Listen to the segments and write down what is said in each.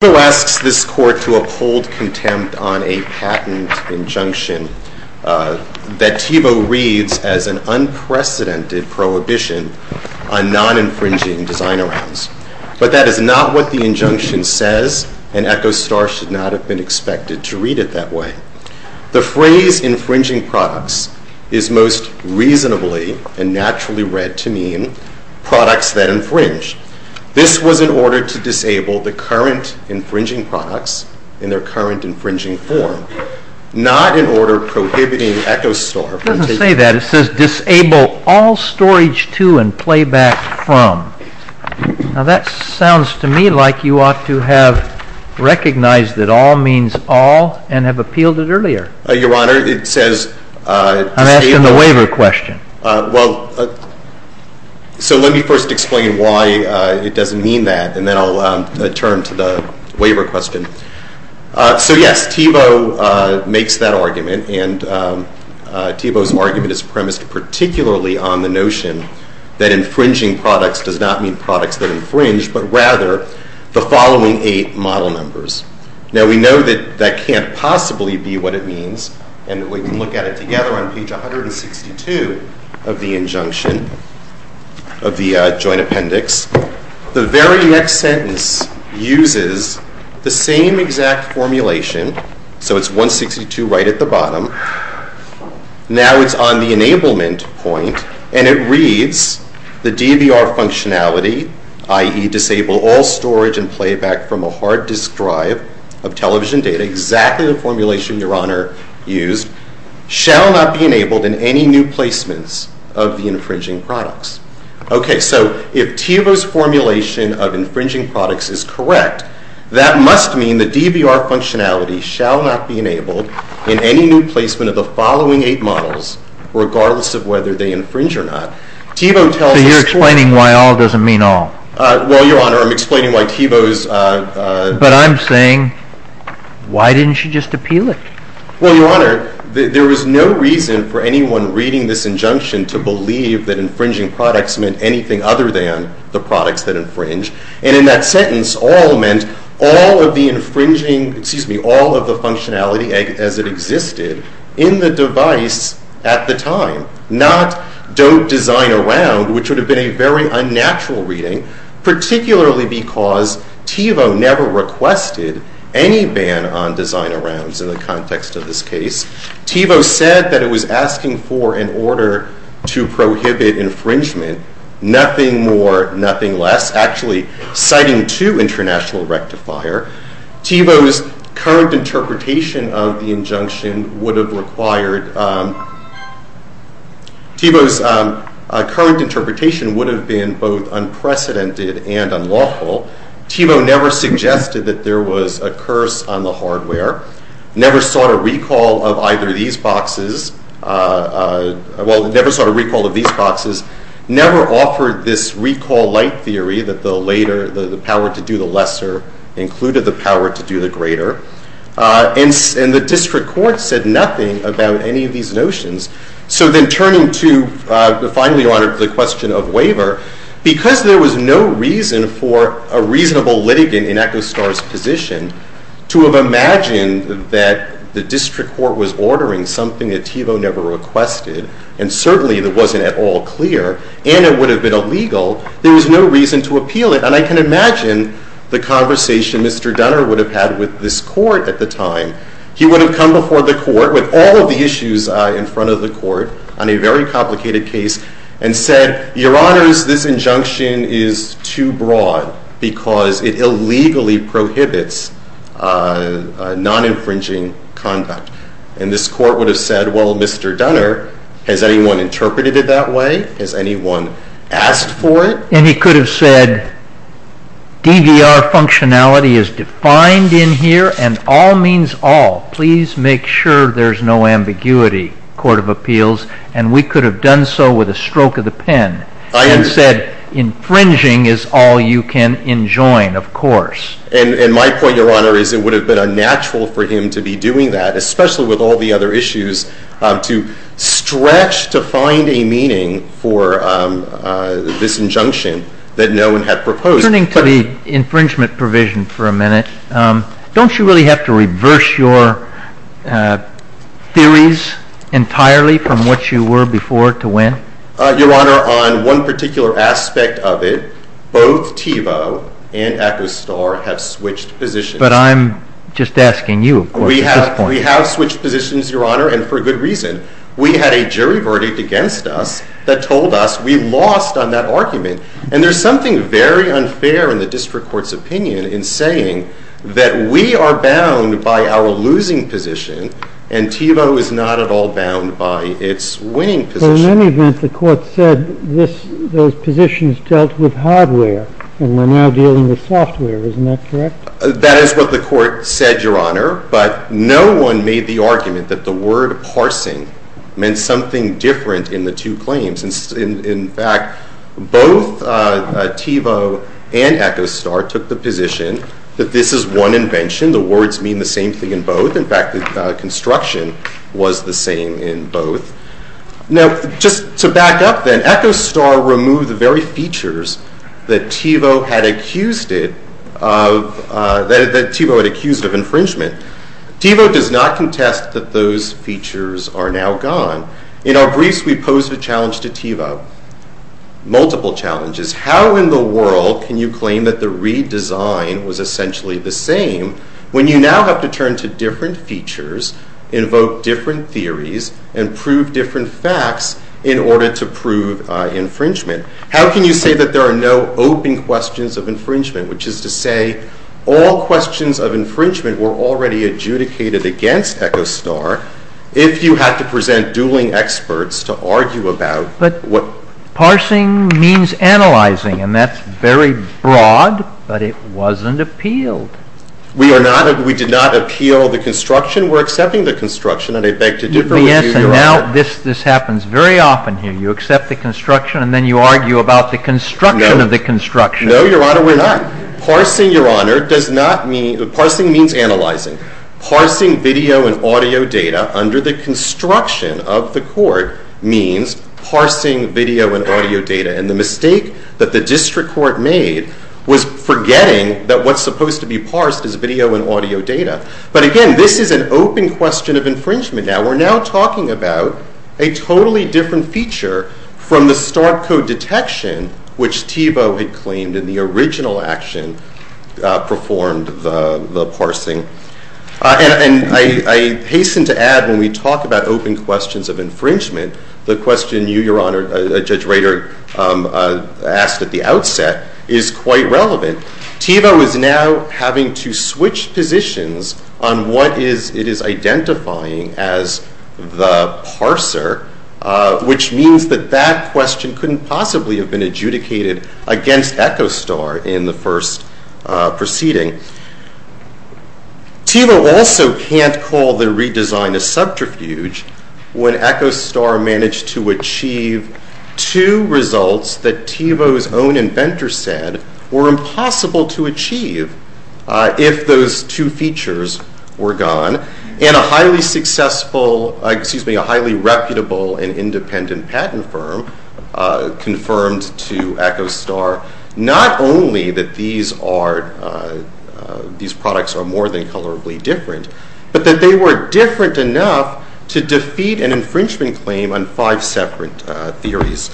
TIVO asks this court to uphold contempt on a patent injunction that TIVO reads as an unprecedented prohibition on non-infringing design arounds. But that is not what the injunction says, and Echostar should not have been expected to read it that way. The phrase infringing products is most reasonably and naturally read to mean products that infringe. This was in order to disable the current infringing products in their current infringing form, not in order prohibiting Echostar from taking them. It doesn't say that. It says disable all storage to and playback from. Now, that sounds to me like you ought to have recognized that all means all and have appealed it earlier. Your Honor, it says... I'm asking the waiver question. Well, so let me first explain why it doesn't mean that, and then I'll turn to the waiver question. So, yes, TIVO makes that argument, and TIVO's argument is premised particularly on the notion that infringing products does not mean products that infringe, but rather the following eight model numbers. Now, we know that that can't possibly be what it means, and we can look at it together on page 162 of the injunction of the Joint Appendix. The very next sentence uses the same exact formulation, so it's 162 right at the bottom. Now it's on the enablement point, and it reads the DVR functionality, i.e. disable all storage and playback from a hard disk drive of television data, exactly the formulation Your Honor used, shall not be enabled in any new placements of the infringing products. Okay, so if TIVO's formulation of infringing products is correct, that must mean the DVR functionality shall not be enabled in any new placement of the following eight models, regardless of whether they infringe or not. TIVO tells us... So you're explaining why all doesn't mean all. Well, Your Honor, I'm explaining why TIVO's... But I'm saying, why didn't you just appeal it? Well, Your Honor, there is no reason for anyone reading this injunction to believe that infringing products meant anything other than the products that infringe, and in that sentence, all meant all of the infringing, excuse me, all of the functionality as it existed in the device at the time, not don't design around, which would have been a very unnatural reading, particularly because TIVO never requested any ban on design arounds in the context of this case. TIVO said that it was asking for, in order to prohibit infringement, nothing more, nothing less. Actually, citing two international rectifier, TIVO's current interpretation of the injunction would have required... TIVO's current interpretation would have been both unprecedented and unlawful. TIVO never suggested that there was a curse on the hardware, never sought a recall of either of these boxes, well, never sought a recall of these boxes, never offered this recall light theory that the later, the power to do the lesser included the power to do the greater. And the district court said nothing about any of these notions. So then turning to, finally, Your Honor, the question of waiver, because there was no reason for a reasonable litigant in Echo Star's position to have imagined that the district court was ordering something that TIVO never requested, and certainly that wasn't at all clear, and it would have been illegal, there was no reason to appeal it. And I can imagine the conversation Mr. Dunner would have had with this court at the time. He would have come before the court with all of the issues in front of the court on a very complicated case and said, Your Honors, this injunction is too broad because it illegally prohibits non-infringing conduct. And this court would have said, well, Mr. Dunner, has anyone interpreted it that way? Has anyone asked for it? And he could have said DVR functionality is defined in here, and all means all. Please make sure there's no ambiguity, Court of Appeals. And we could have done so with a stroke of the pen and said infringing is all you can enjoin, of course. And my point, Your Honor, is it would have been unnatural for him to be doing that, especially all the other issues, to stretch to find a meaning for this injunction that no one had proposed. Turning to the infringement provision for a minute, don't you really have to reverse your theories entirely from what you were before to when? Your Honor, on one particular aspect of it, both TIVO and ACOSTAR have switched positions. We have switched positions, Your Honor, and for good reason. We had a jury verdict against us that told us we lost on that argument. And there's something very unfair in the district court's opinion in saying that we are bound by our losing position, and TIVO is not at all bound by its winning position. But in any event, the court said those positions dealt with hardware, and we're now dealing with software. Isn't that correct? That is what the court said, Your Honor, but no one made the argument that the word parsing meant something different in the two claims. In fact, both TIVO and ACOSTAR took the position that this is one invention. The words mean the same thing in both. In fact, the construction was the same in both. Now, just to back up then, ACOSTAR removed the very features that TIVO had accused it of, that TIVO had accused of infringement. TIVO does not contest that those features are now gone. In our briefs, we posed a challenge to TIVO, multiple challenges. How in the world can you claim that the redesign was essentially the same when you now have to turn to different features, invoke different theories, and prove different facts in order to prove infringement? How can you say that there are no open questions of infringement, which is to say all questions of infringement were already adjudicated against ACOSTAR if you had to present dueling experts to argue about what— But parsing means analyzing, and that's very broad, but it wasn't appealed. We are not—we did not appeal the construction. We're accepting the construction, and I beg to differ with you, Your Honor. Yes, and now this happens very often here. You accept the construction, and then you argue about the construction of the construction. No, Your Honor, we're not. Parsing, Your Honor, does not mean—parsing means analyzing. Parsing video and audio data under the construction of the Court means parsing video and audio data, and the mistake that the District Court made was forgetting that what's supposed to be parsed is video and audio data. But again, this is an open question of infringement now. We're now talking about a totally different feature from the start code detection, which Thiebaud had claimed in the original action performed the parsing. And I hasten to add, when we talk about open questions of infringement, the question you, Your Honor, Judge Rader, asked at the outset is quite relevant. Thiebaud is now having to switch positions on what it is identifying as the parser, which means that that question couldn't possibly have been adjudicated against Echostar in the first proceeding. Thiebaud also can't call the redesign a subterfuge when Echostar managed to achieve two results that Thiebaud's own inventor said were impossible to achieve if those two features were gone, and a highly successful—excuse me, a highly reputable and independent patent firm confirmed to Echostar not only that these products are more than colorably different, but that they were different enough to defeat an infringement claim on five separate theories.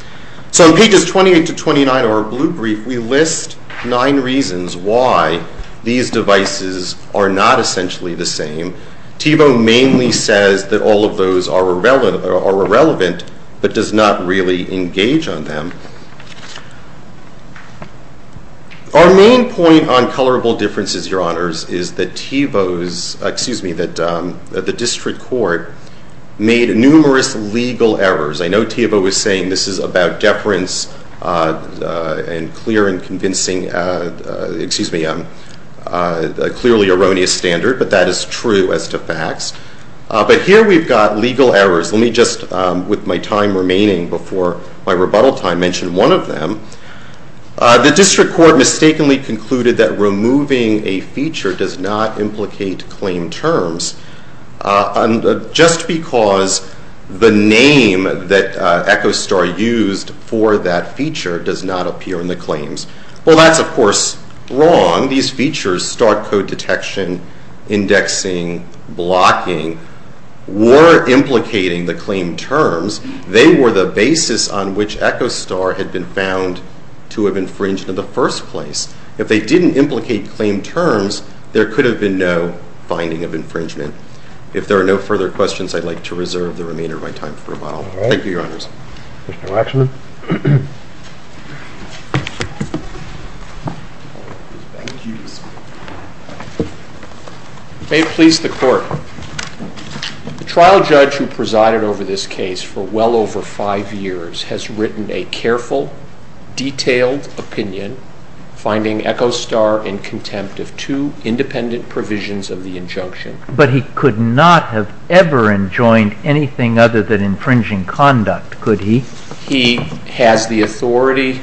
So in pages 28 to 29 of our blue brief, we list nine reasons why these devices are not essentially the same. Thiebaud mainly says that all of those are irrelevant, but does not really engage on them. Our main point on colorable differences, Your Honors, is that Thiebaud's—excuse me, the District Court made numerous legal errors. I know Thiebaud was saying this is about deference and clear and convincing—excuse me, a clearly erroneous standard, but that is true as to facts. But here we've got legal errors. Let me just, with my time remaining before my rebuttal time, mention one of them. The District Court mistakenly concluded that removing a feature does not implicate claim terms just because the name that Echostar used for that feature does not appear in the claims. Well, that's, of course, wrong. These features—star code detection, indexing, blocking—were implicating the claim terms. They were the basis on which Echostar had been found to have infringed in the first place. If they didn't implicate claim terms, there could have been no finding of infringement. If there are no further questions, I'd like to reserve the remainder of my time for a while. Thank you, Your Honors. All right. Mr. Waxman. May it please the Court. The trial judge who presided over this case for well over five years has written a careful, detailed opinion, finding Echostar in contempt of two independent provisions of the injunction. But he could not have ever enjoined anything other than infringing conduct, could he? He has the authority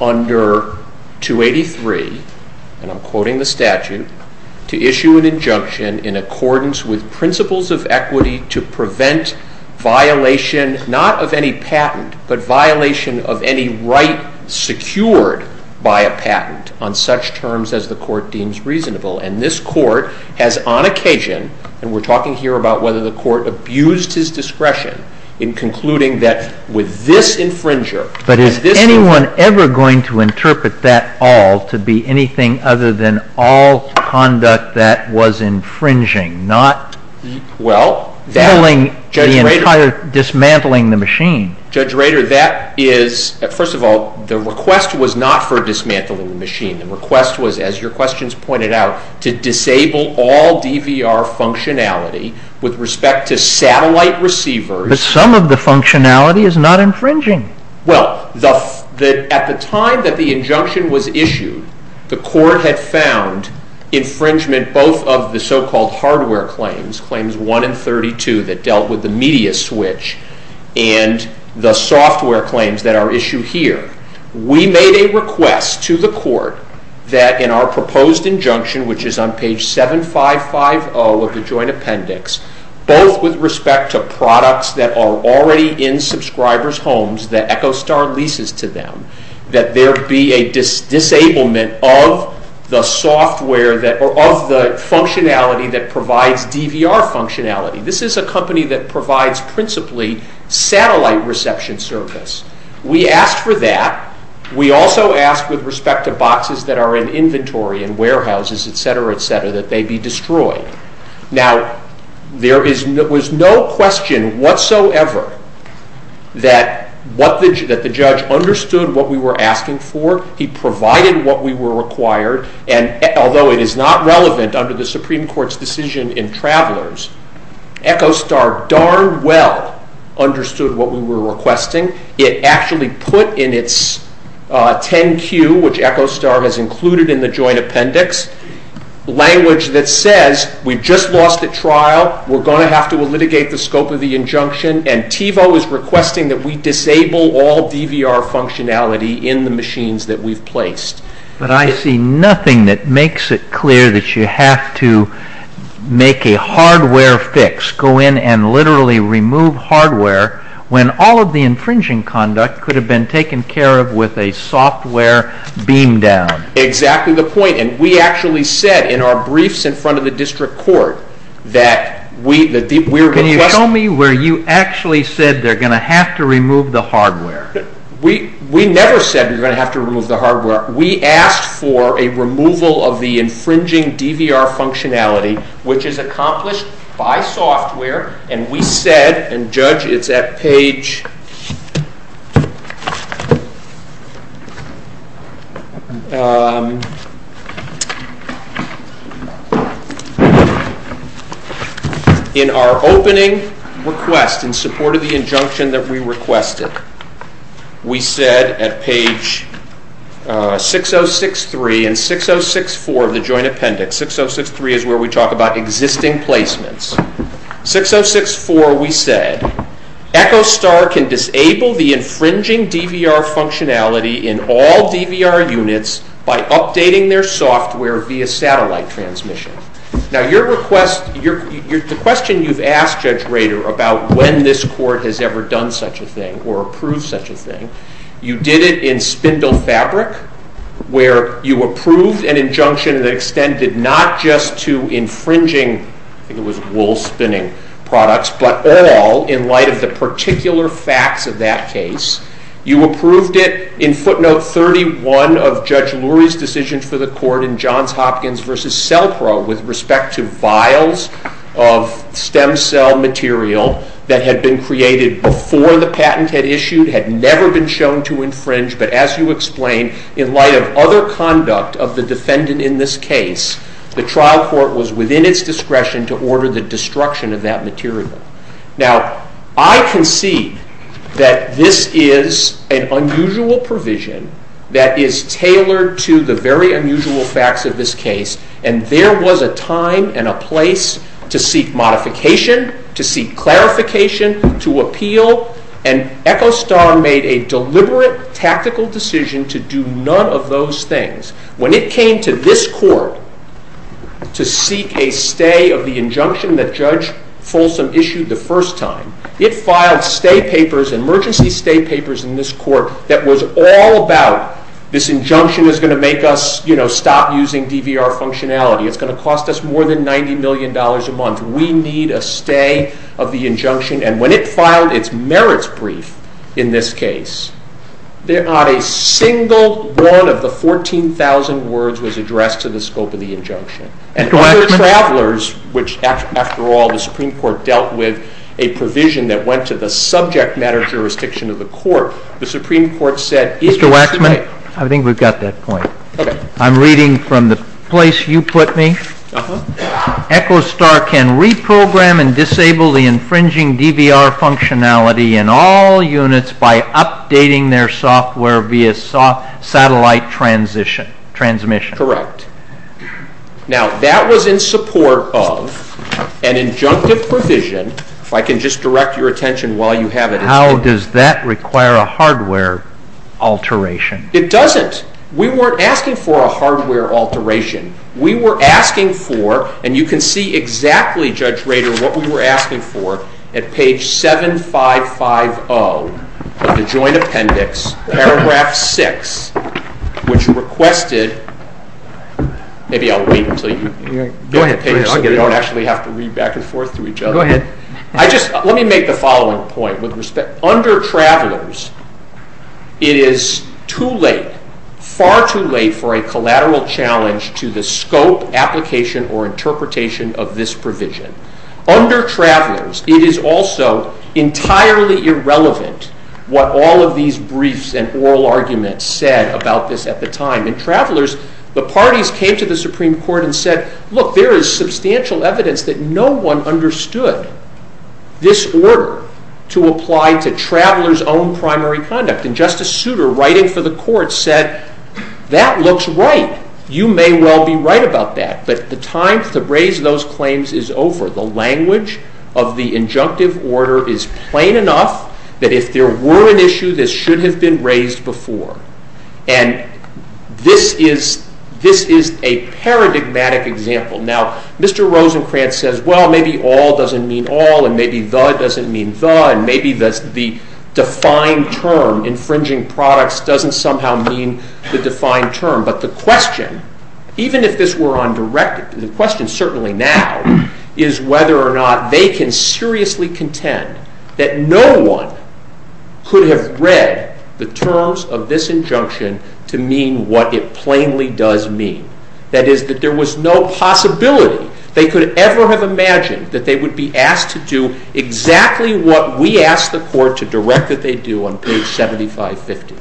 under 283—and I'm quoting the statute—to issue an injunction in accordance with principles of equity to prevent violation, not of any patent, but violation of any right secured by a patent on such terms as the Court deems reasonable. And this Court has on occasion—and we're talking here about whether the Court abused his discretion in concluding that with this infringer— But is anyone ever going to interpret that all to be anything other than all conduct that was infringing, not— Well, that— —filling the entire—dismantling the machine. Judge Rader, that is—first of all, the request was not for dismantling the machine. The request was, as your questions pointed out, to disable all DVR functionality with respect to satellite receivers— But some of the functionality is not infringing. Well, at the time that the injunction was issued, the Court had found infringement both of the so-called hardware claims, Claims 1 and 32, that dealt with the media switch and the software claims that are issued here. We made a request to the Court that in our proposed injunction, which is on page 7550 of the Joint Appendix, both with respect to products that are already in subscribers' homes that EchoStar leases to them, that there be a disablement of the software that—or of the functionality that provides DVR functionality. This is a company that provides principally satellite reception service. We asked for that. We also asked with respect to boxes that are in inventory in warehouses, et cetera, et cetera, that they be destroyed. Now, there was no question whatsoever that the judge understood what we were asking for. He provided what we were required, and although it is not relevant under the Supreme Court's decision in Travelers, EchoStar darn well understood what we were requesting. It actually put in its 10Q, which EchoStar has included in the Joint Appendix, language that says, we just lost at trial, we're going to have to litigate the scope of the injunction, and TiVo is requesting that we disable all DVR functionality in the machines that we've placed. But I see nothing that makes it clear that you have to make a hardware fix, go in and literally remove hardware, when all of the infringing conduct could have been taken care of with a software beam down. Exactly the point. And we actually said in our briefs in front of the district court that we were— Can you tell me where you actually said they're going to have to remove the hardware? We never said we were going to have to remove the hardware. We asked for a removal of the infringing DVR functionality, which is accomplished by software, and we said, and Judge, it's at page— In our opening request, in support of the injunction that we requested, we said at page 6063 and 6064 of the joint appendix, 6063 is where we talk about existing placements, 6064 we said, EchoStar can disable the infringing DVR functionality in all DVR units by updating their software via satellite transmission. Now your request—the question you've asked, Judge Rader, about when this court has ever such a thing or approved such a thing, you did it in spindle fabric, where you approved an injunction that extended not just to infringing—I think it was wool spinning products—but all in light of the particular facts of that case. You approved it in footnote 31 of Judge Lurie's decision for the court in Johns Hopkins v. Cellpro with respect to vials of stem cell material that had been created before the patent had issued, had never been shown to infringe, but as you explained, in light of other conduct of the defendant in this case, the trial court was within its discretion to order the destruction of that material. Now, I concede that this is an unusual provision that is tailored to the very unusual facts of this case, and there was a time and a place to seek modification, to seek clarification, to appeal, and EchoStar made a deliberate tactical decision to do none of those things. When it came to this court to seek a stay of the injunction that Judge Folsom issued the first time, it filed stay papers, emergency stay papers, in this court that was all about this injunction is going to make us, you know, stop using DVR functionality. It's going to cost us more than $90 million a month. We need a stay of the injunction. And when it filed its merits brief in this case, not a single one of the 14,000 words was addressed to the scope of the injunction. And other travelers, which, after all, the Supreme Court dealt with a provision that went to the subject matter jurisdiction of the court, the Supreme Court said— Mr. Waxman, I think we've got that point. I'm reading from the place you put me. EchoStar can reprogram and disable the infringing DVR functionality in all units by updating their software via satellite transmission. Correct. Now, that was in support of an injunctive provision, if I can just direct your attention while you have it. How does that require a hardware alteration? It doesn't. We weren't asking for a hardware alteration. We were asking for—and you can see exactly, Judge Rader, what we were asking for at page 7550 of the Joint Appendix, paragraph 6, which requested—maybe I'll wait until you get the page so we don't actually have to read back and forth through each other. Go ahead. Let me make the following point with respect. Under Travelers, it is too late, far too late for a collateral challenge to the scope, application, or interpretation of this provision. Under Travelers, it is also entirely irrelevant what all of these briefs and oral arguments said about this at the time. In Travelers, the parties came to the Supreme Court and said, look, there is substantial evidence that no one understood this order to apply to Travelers' own primary conduct. And Justice Souter, writing for the Court, said, that looks right. You may well be right about that. But the time to raise those claims is over. The language of the injunctive order is plain enough that if there were an issue, this should have been raised before. And this is a paradigmatic example. Now, Mr. Rosencrantz says, well, maybe all doesn't mean all, and maybe the doesn't mean the, and maybe the defined term infringing products doesn't somehow mean the defined term. But the question, even if this were undirected, the question certainly now is whether or not they can seriously contend that no one could have read the terms of this injunction to mean what it plainly does mean. That is, that there was no possibility they could ever have imagined that they would be asked to do exactly what we asked the Court to direct that they do on page 7550.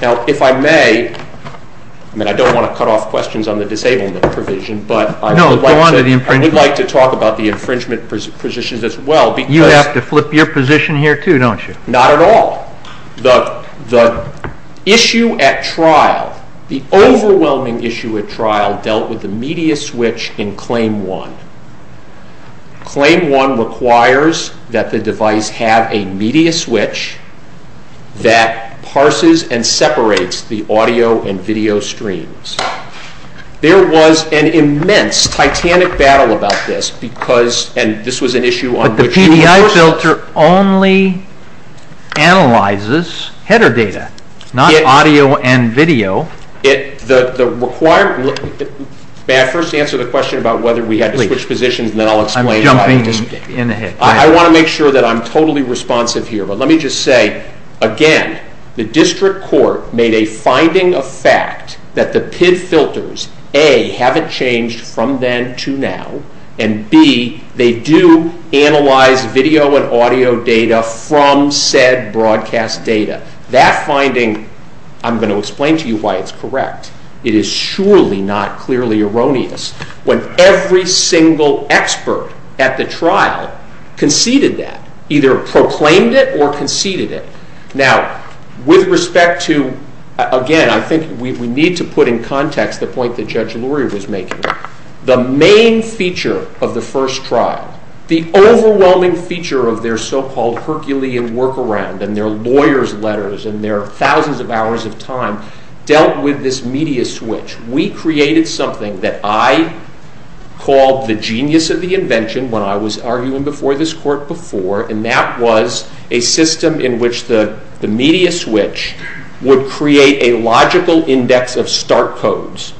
Now, if I may, I mean, I don't want to cut off questions on the disablement provision, but I would like to talk about the infringement positions as well. You have to flip your position here, too, don't you? Not at all. The issue at trial, the overwhelming issue at trial dealt with the media switch in Claim 1. Claim 1 requires that the device have a media switch that parses and separates the audio and video streams. There was an immense titanic battle about this because, and this was an issue on which the PDI filter only analyzes header data, not audio and video. May I first answer the question about whether we had to switch positions, and then I will explain why. I am jumping in ahead. I want to make sure that I am totally responsive here, but let me just say, again, the District Court made a finding of fact that the PID filters, A, haven't changed from then to now, and B, they do analyze video and audio data from said broadcast data. That finding, I am going to explain to you why it is correct. It is surely not clearly erroneous when every single expert at the trial conceded that, either proclaimed it or conceded it. Now, with respect to, again, I think we need to put in context the point that Judge Lurie was making. The main feature of the first trial, the overwhelming feature of their so-called Herculean workaround and their lawyer's letters and their thousands of hours of time dealt with this media switch. We created something that I called the genius of the invention when I was arguing before this Court before, and that was a system in which the media switch would create a logical index of start codes,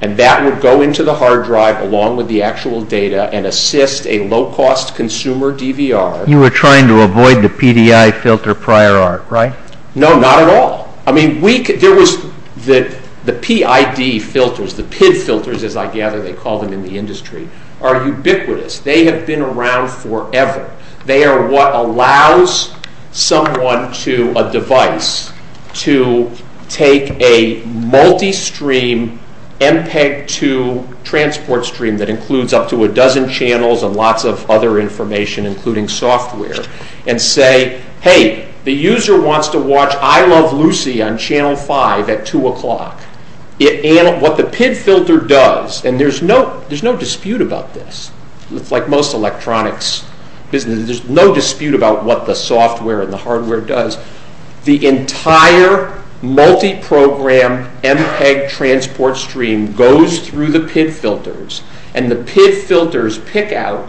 and that would go into the hard drive along with the actual data and assist a low-cost consumer DVR. You were trying to avoid the PDI filter prior art, right? No, not at all. I mean, there was the PID filters, the PID filters, as I gather they call them in the industry, are ubiquitous. They have been around forever. They are what allows someone to, a device, to take a multi-stream MPEG-2 transport stream that includes up to a dozen channels and lots of other information, including software, and say, hey, the user wants to watch I Love Lucy on Channel 5 at 2 o'clock. What the PID filter does, and there's no dispute about this, like most electronics, there's no dispute about what the software and the hardware does, the entire multi-program MPEG transport stream goes through the PID filters, and the PID filters pick out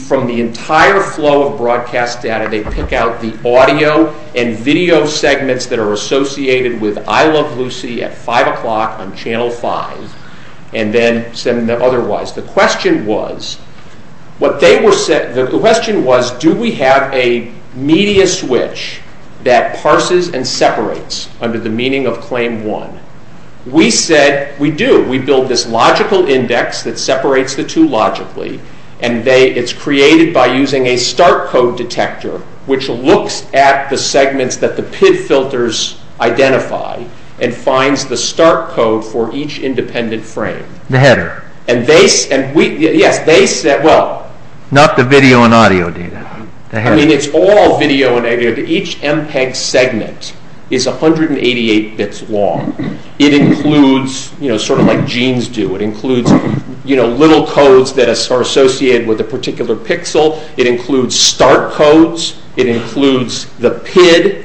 from the entire flow of broadcast data, they pick out the audio and video segments that are associated with I Love Lucy at 5 o'clock on Channel 5, and then send them otherwise. The question was, do we have a media switch that parses and separates under the meaning of Claim 1? We said, we do. We build this logical index that separates the two logically, and it's created by using a start code detector, which looks at the segments that the PID filters identify and finds the start code for each independent frame. The header. And they, and we, yes, they said, well. Not the video and audio data. I mean, it's all video and audio. Each MPEG segment is 188 bits long. It includes, you know, sort of like genes do. It includes, you know, little codes that are associated with a particular pixel. It includes start codes. It includes the PID.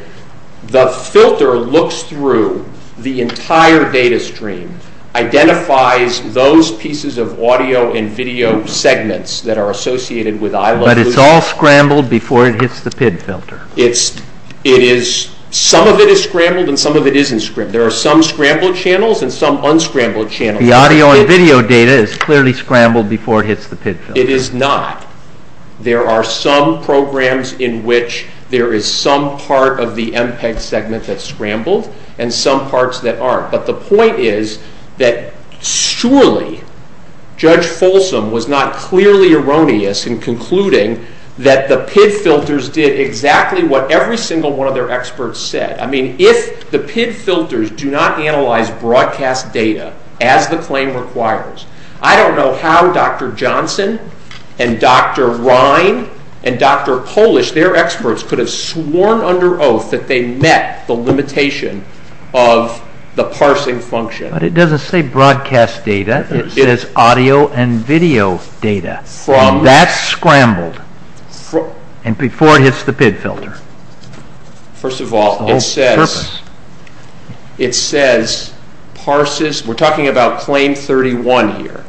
The filter looks through the entire data stream, identifies those pieces of audio and video segments that are associated with I Love Lucy. But it's all scrambled before it hits the PID filter. It's, it is, some of it is scrambled and some of it isn't scrambled. There are some scrambled channels and some unscrambled channels. The audio and video data is clearly scrambled before it hits the PID filter. It is not. There are some programs in which there is some part of the MPEG segment that's scrambled and some parts that aren't. But the point is that surely Judge Folsom was not clearly erroneous in concluding that the PID filters did exactly what every single one of their experts said. I mean, if the PID filters do not analyze broadcast data as the claim requires, I don't know how Dr. Johnson and Dr. Rhine and Dr. Polish, their experts, could have sworn under oath that they met the limitation of the parsing function. But it doesn't say broadcast data. It says audio and video data. That's scrambled. And before it hits the PID filter. First of all, it says, it says, parses, we're talking about claim 31 here.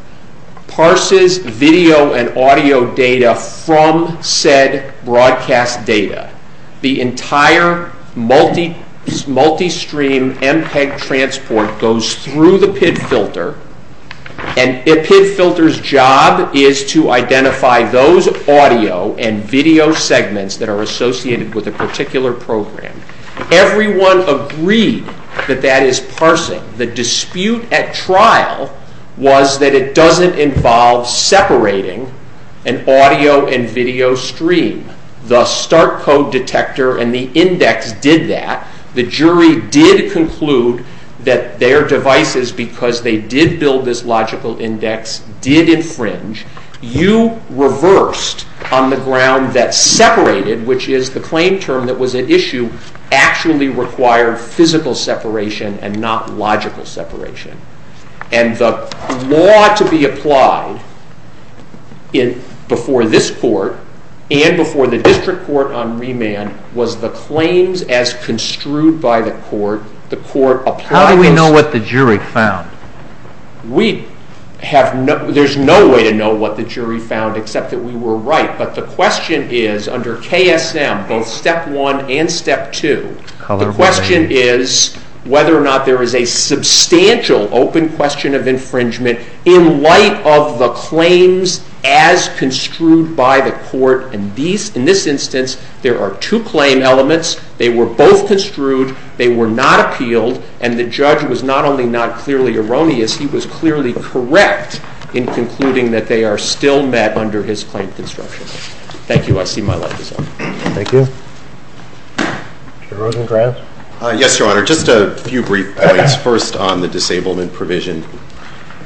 Parses video and audio data from said broadcast data. The entire multi-stream MPEG transport goes through the PID filter. And a PID filter's job is to identify those audio and video segments that are associated with a particular program. Everyone agreed that that is parsing. The dispute at trial was that it doesn't involve separating an audio and video stream. The start code detector and the index did that. The jury did conclude that their devices, because they did build this logical index, did infringe. You reversed on the ground that separated, which is the claim term that was at issue, actually required physical separation and not logical separation. And the law to be applied in, before this court and before the district court on remand, was the claims as construed by the court. The court applied- How do we know what the jury found? We have no, there's no way to know what the jury found, except that we were right. But the question is, under KSM, both step one and step two, the question is whether or not there is a substantial open question of infringement in light of the claims as construed by the court. And in this instance, there are two claim elements. They were both construed. They were not appealed. And the judge was not only not clearly erroneous, he was clearly correct in concluding that they are still met under his claim construction. Thank you. I see my light is on. Thank you. Chair Rosengrant? Yes, Your Honor. Just a few brief points. First, on the disablement provision.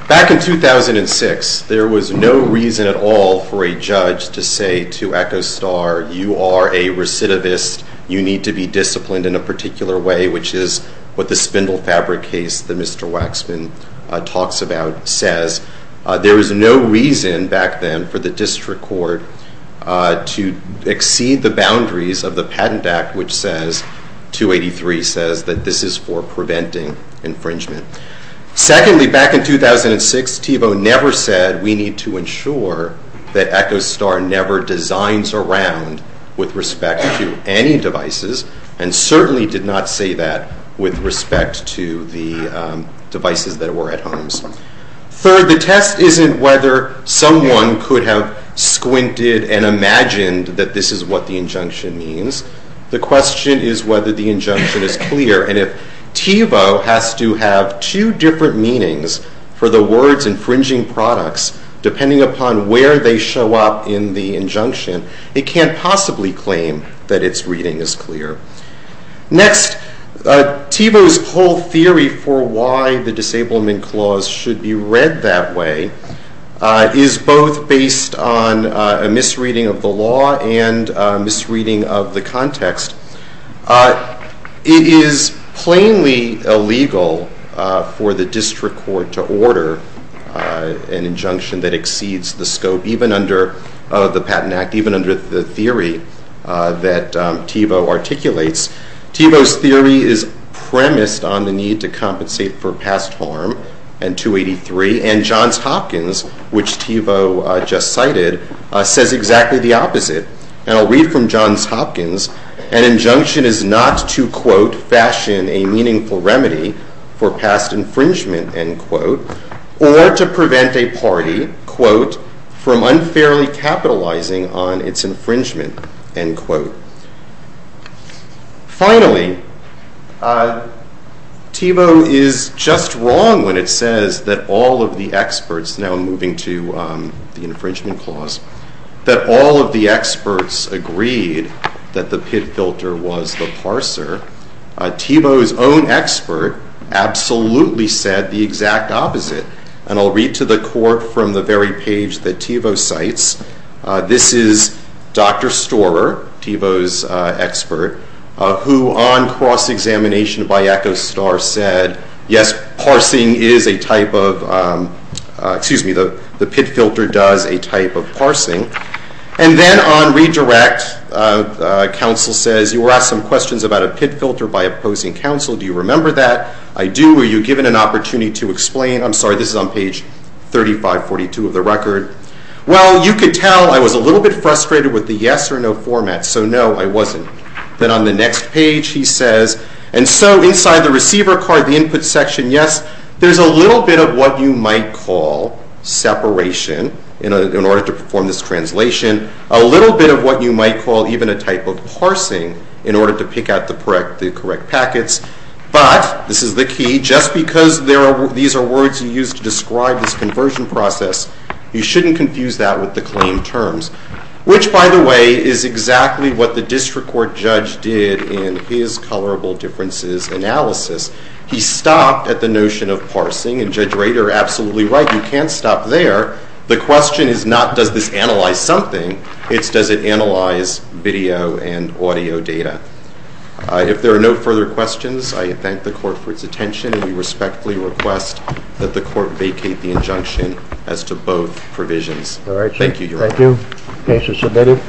Back in 2006, there was no reason at all for a judge to say to Echo Star, you are a recidivist. You need to be disciplined in a particular way, which is what the spindle fabric case that Mr. Waxman talks about says. There was no reason back then for the district court to exceed the boundaries of the Patent Act, which says, 283 says, that this is for preventing infringement. Secondly, back in 2006, Thiebaud never said we need to ensure that Echo Star never designs around with respect to any devices, and certainly did not say that with respect to the devices that were at homes. Third, the test isn't whether someone could have squinted and imagined that this is what the injunction means. The question is whether the injunction is clear, and if Thiebaud has to have two different meanings for the words infringing products, depending upon where they show up in the injunction, it can't possibly claim that its reading is clear. Next, Thiebaud's whole theory for why the Disablement Clause should be read that way is both based on a misreading of the law and a misreading of the context. It is plainly illegal for the district court to order an injunction that exceeds the scope, even under the Patent Act, even under the theory that Thiebaud articulates. Thiebaud's theory is premised on the need to compensate for past harm, and 283, and Johns Hopkins, which Thiebaud just cited, says exactly the opposite. And I'll read from Johns Hopkins. An injunction is not to, quote, fashion a meaningful remedy for past infringement, end quote, unfairly capitalizing on its infringement, end quote. Finally, Thiebaud is just wrong when it says that all of the experts, now moving to the Infringement Clause, that all of the experts agreed that the pit filter was the parser. Thiebaud's own expert absolutely said the exact opposite, and I'll read to the court from the very page that Thiebaud cites. This is Dr. Storer, Thiebaud's expert, who on cross-examination by Echo Star said, yes, parsing is a type of, excuse me, the pit filter does a type of parsing. And then on redirect, counsel says, you were asked some questions about a pit filter by opposing counsel. Do you remember that? I do. Were you given an opportunity to explain? I'm sorry, this is on page 3542 of the record. Well, you could tell I was a little bit frustrated with the yes or no format. So no, I wasn't. Then on the next page, he says, and so inside the receiver card, the input section, yes, there's a little bit of what you might call separation in order to perform this translation, a little bit of what you might call even a type of parsing in order to pick out the correct packets. But, this is the key, just because these are words you use to describe this conversion process, you shouldn't confuse that with the claim terms, which, by the way, is exactly what the district court judge did in his colorable differences analysis. He stopped at the notion of parsing, and Judge Rader, absolutely right, you can't stop there. The question is not does this analyze something, it's does it analyze video and audio data. If there are no further questions, I thank the court for its attention, and we respectfully request that the court vacate the injunction as to both provisions. All right. Thank you, Your Honor. Thank you. Case is submitted.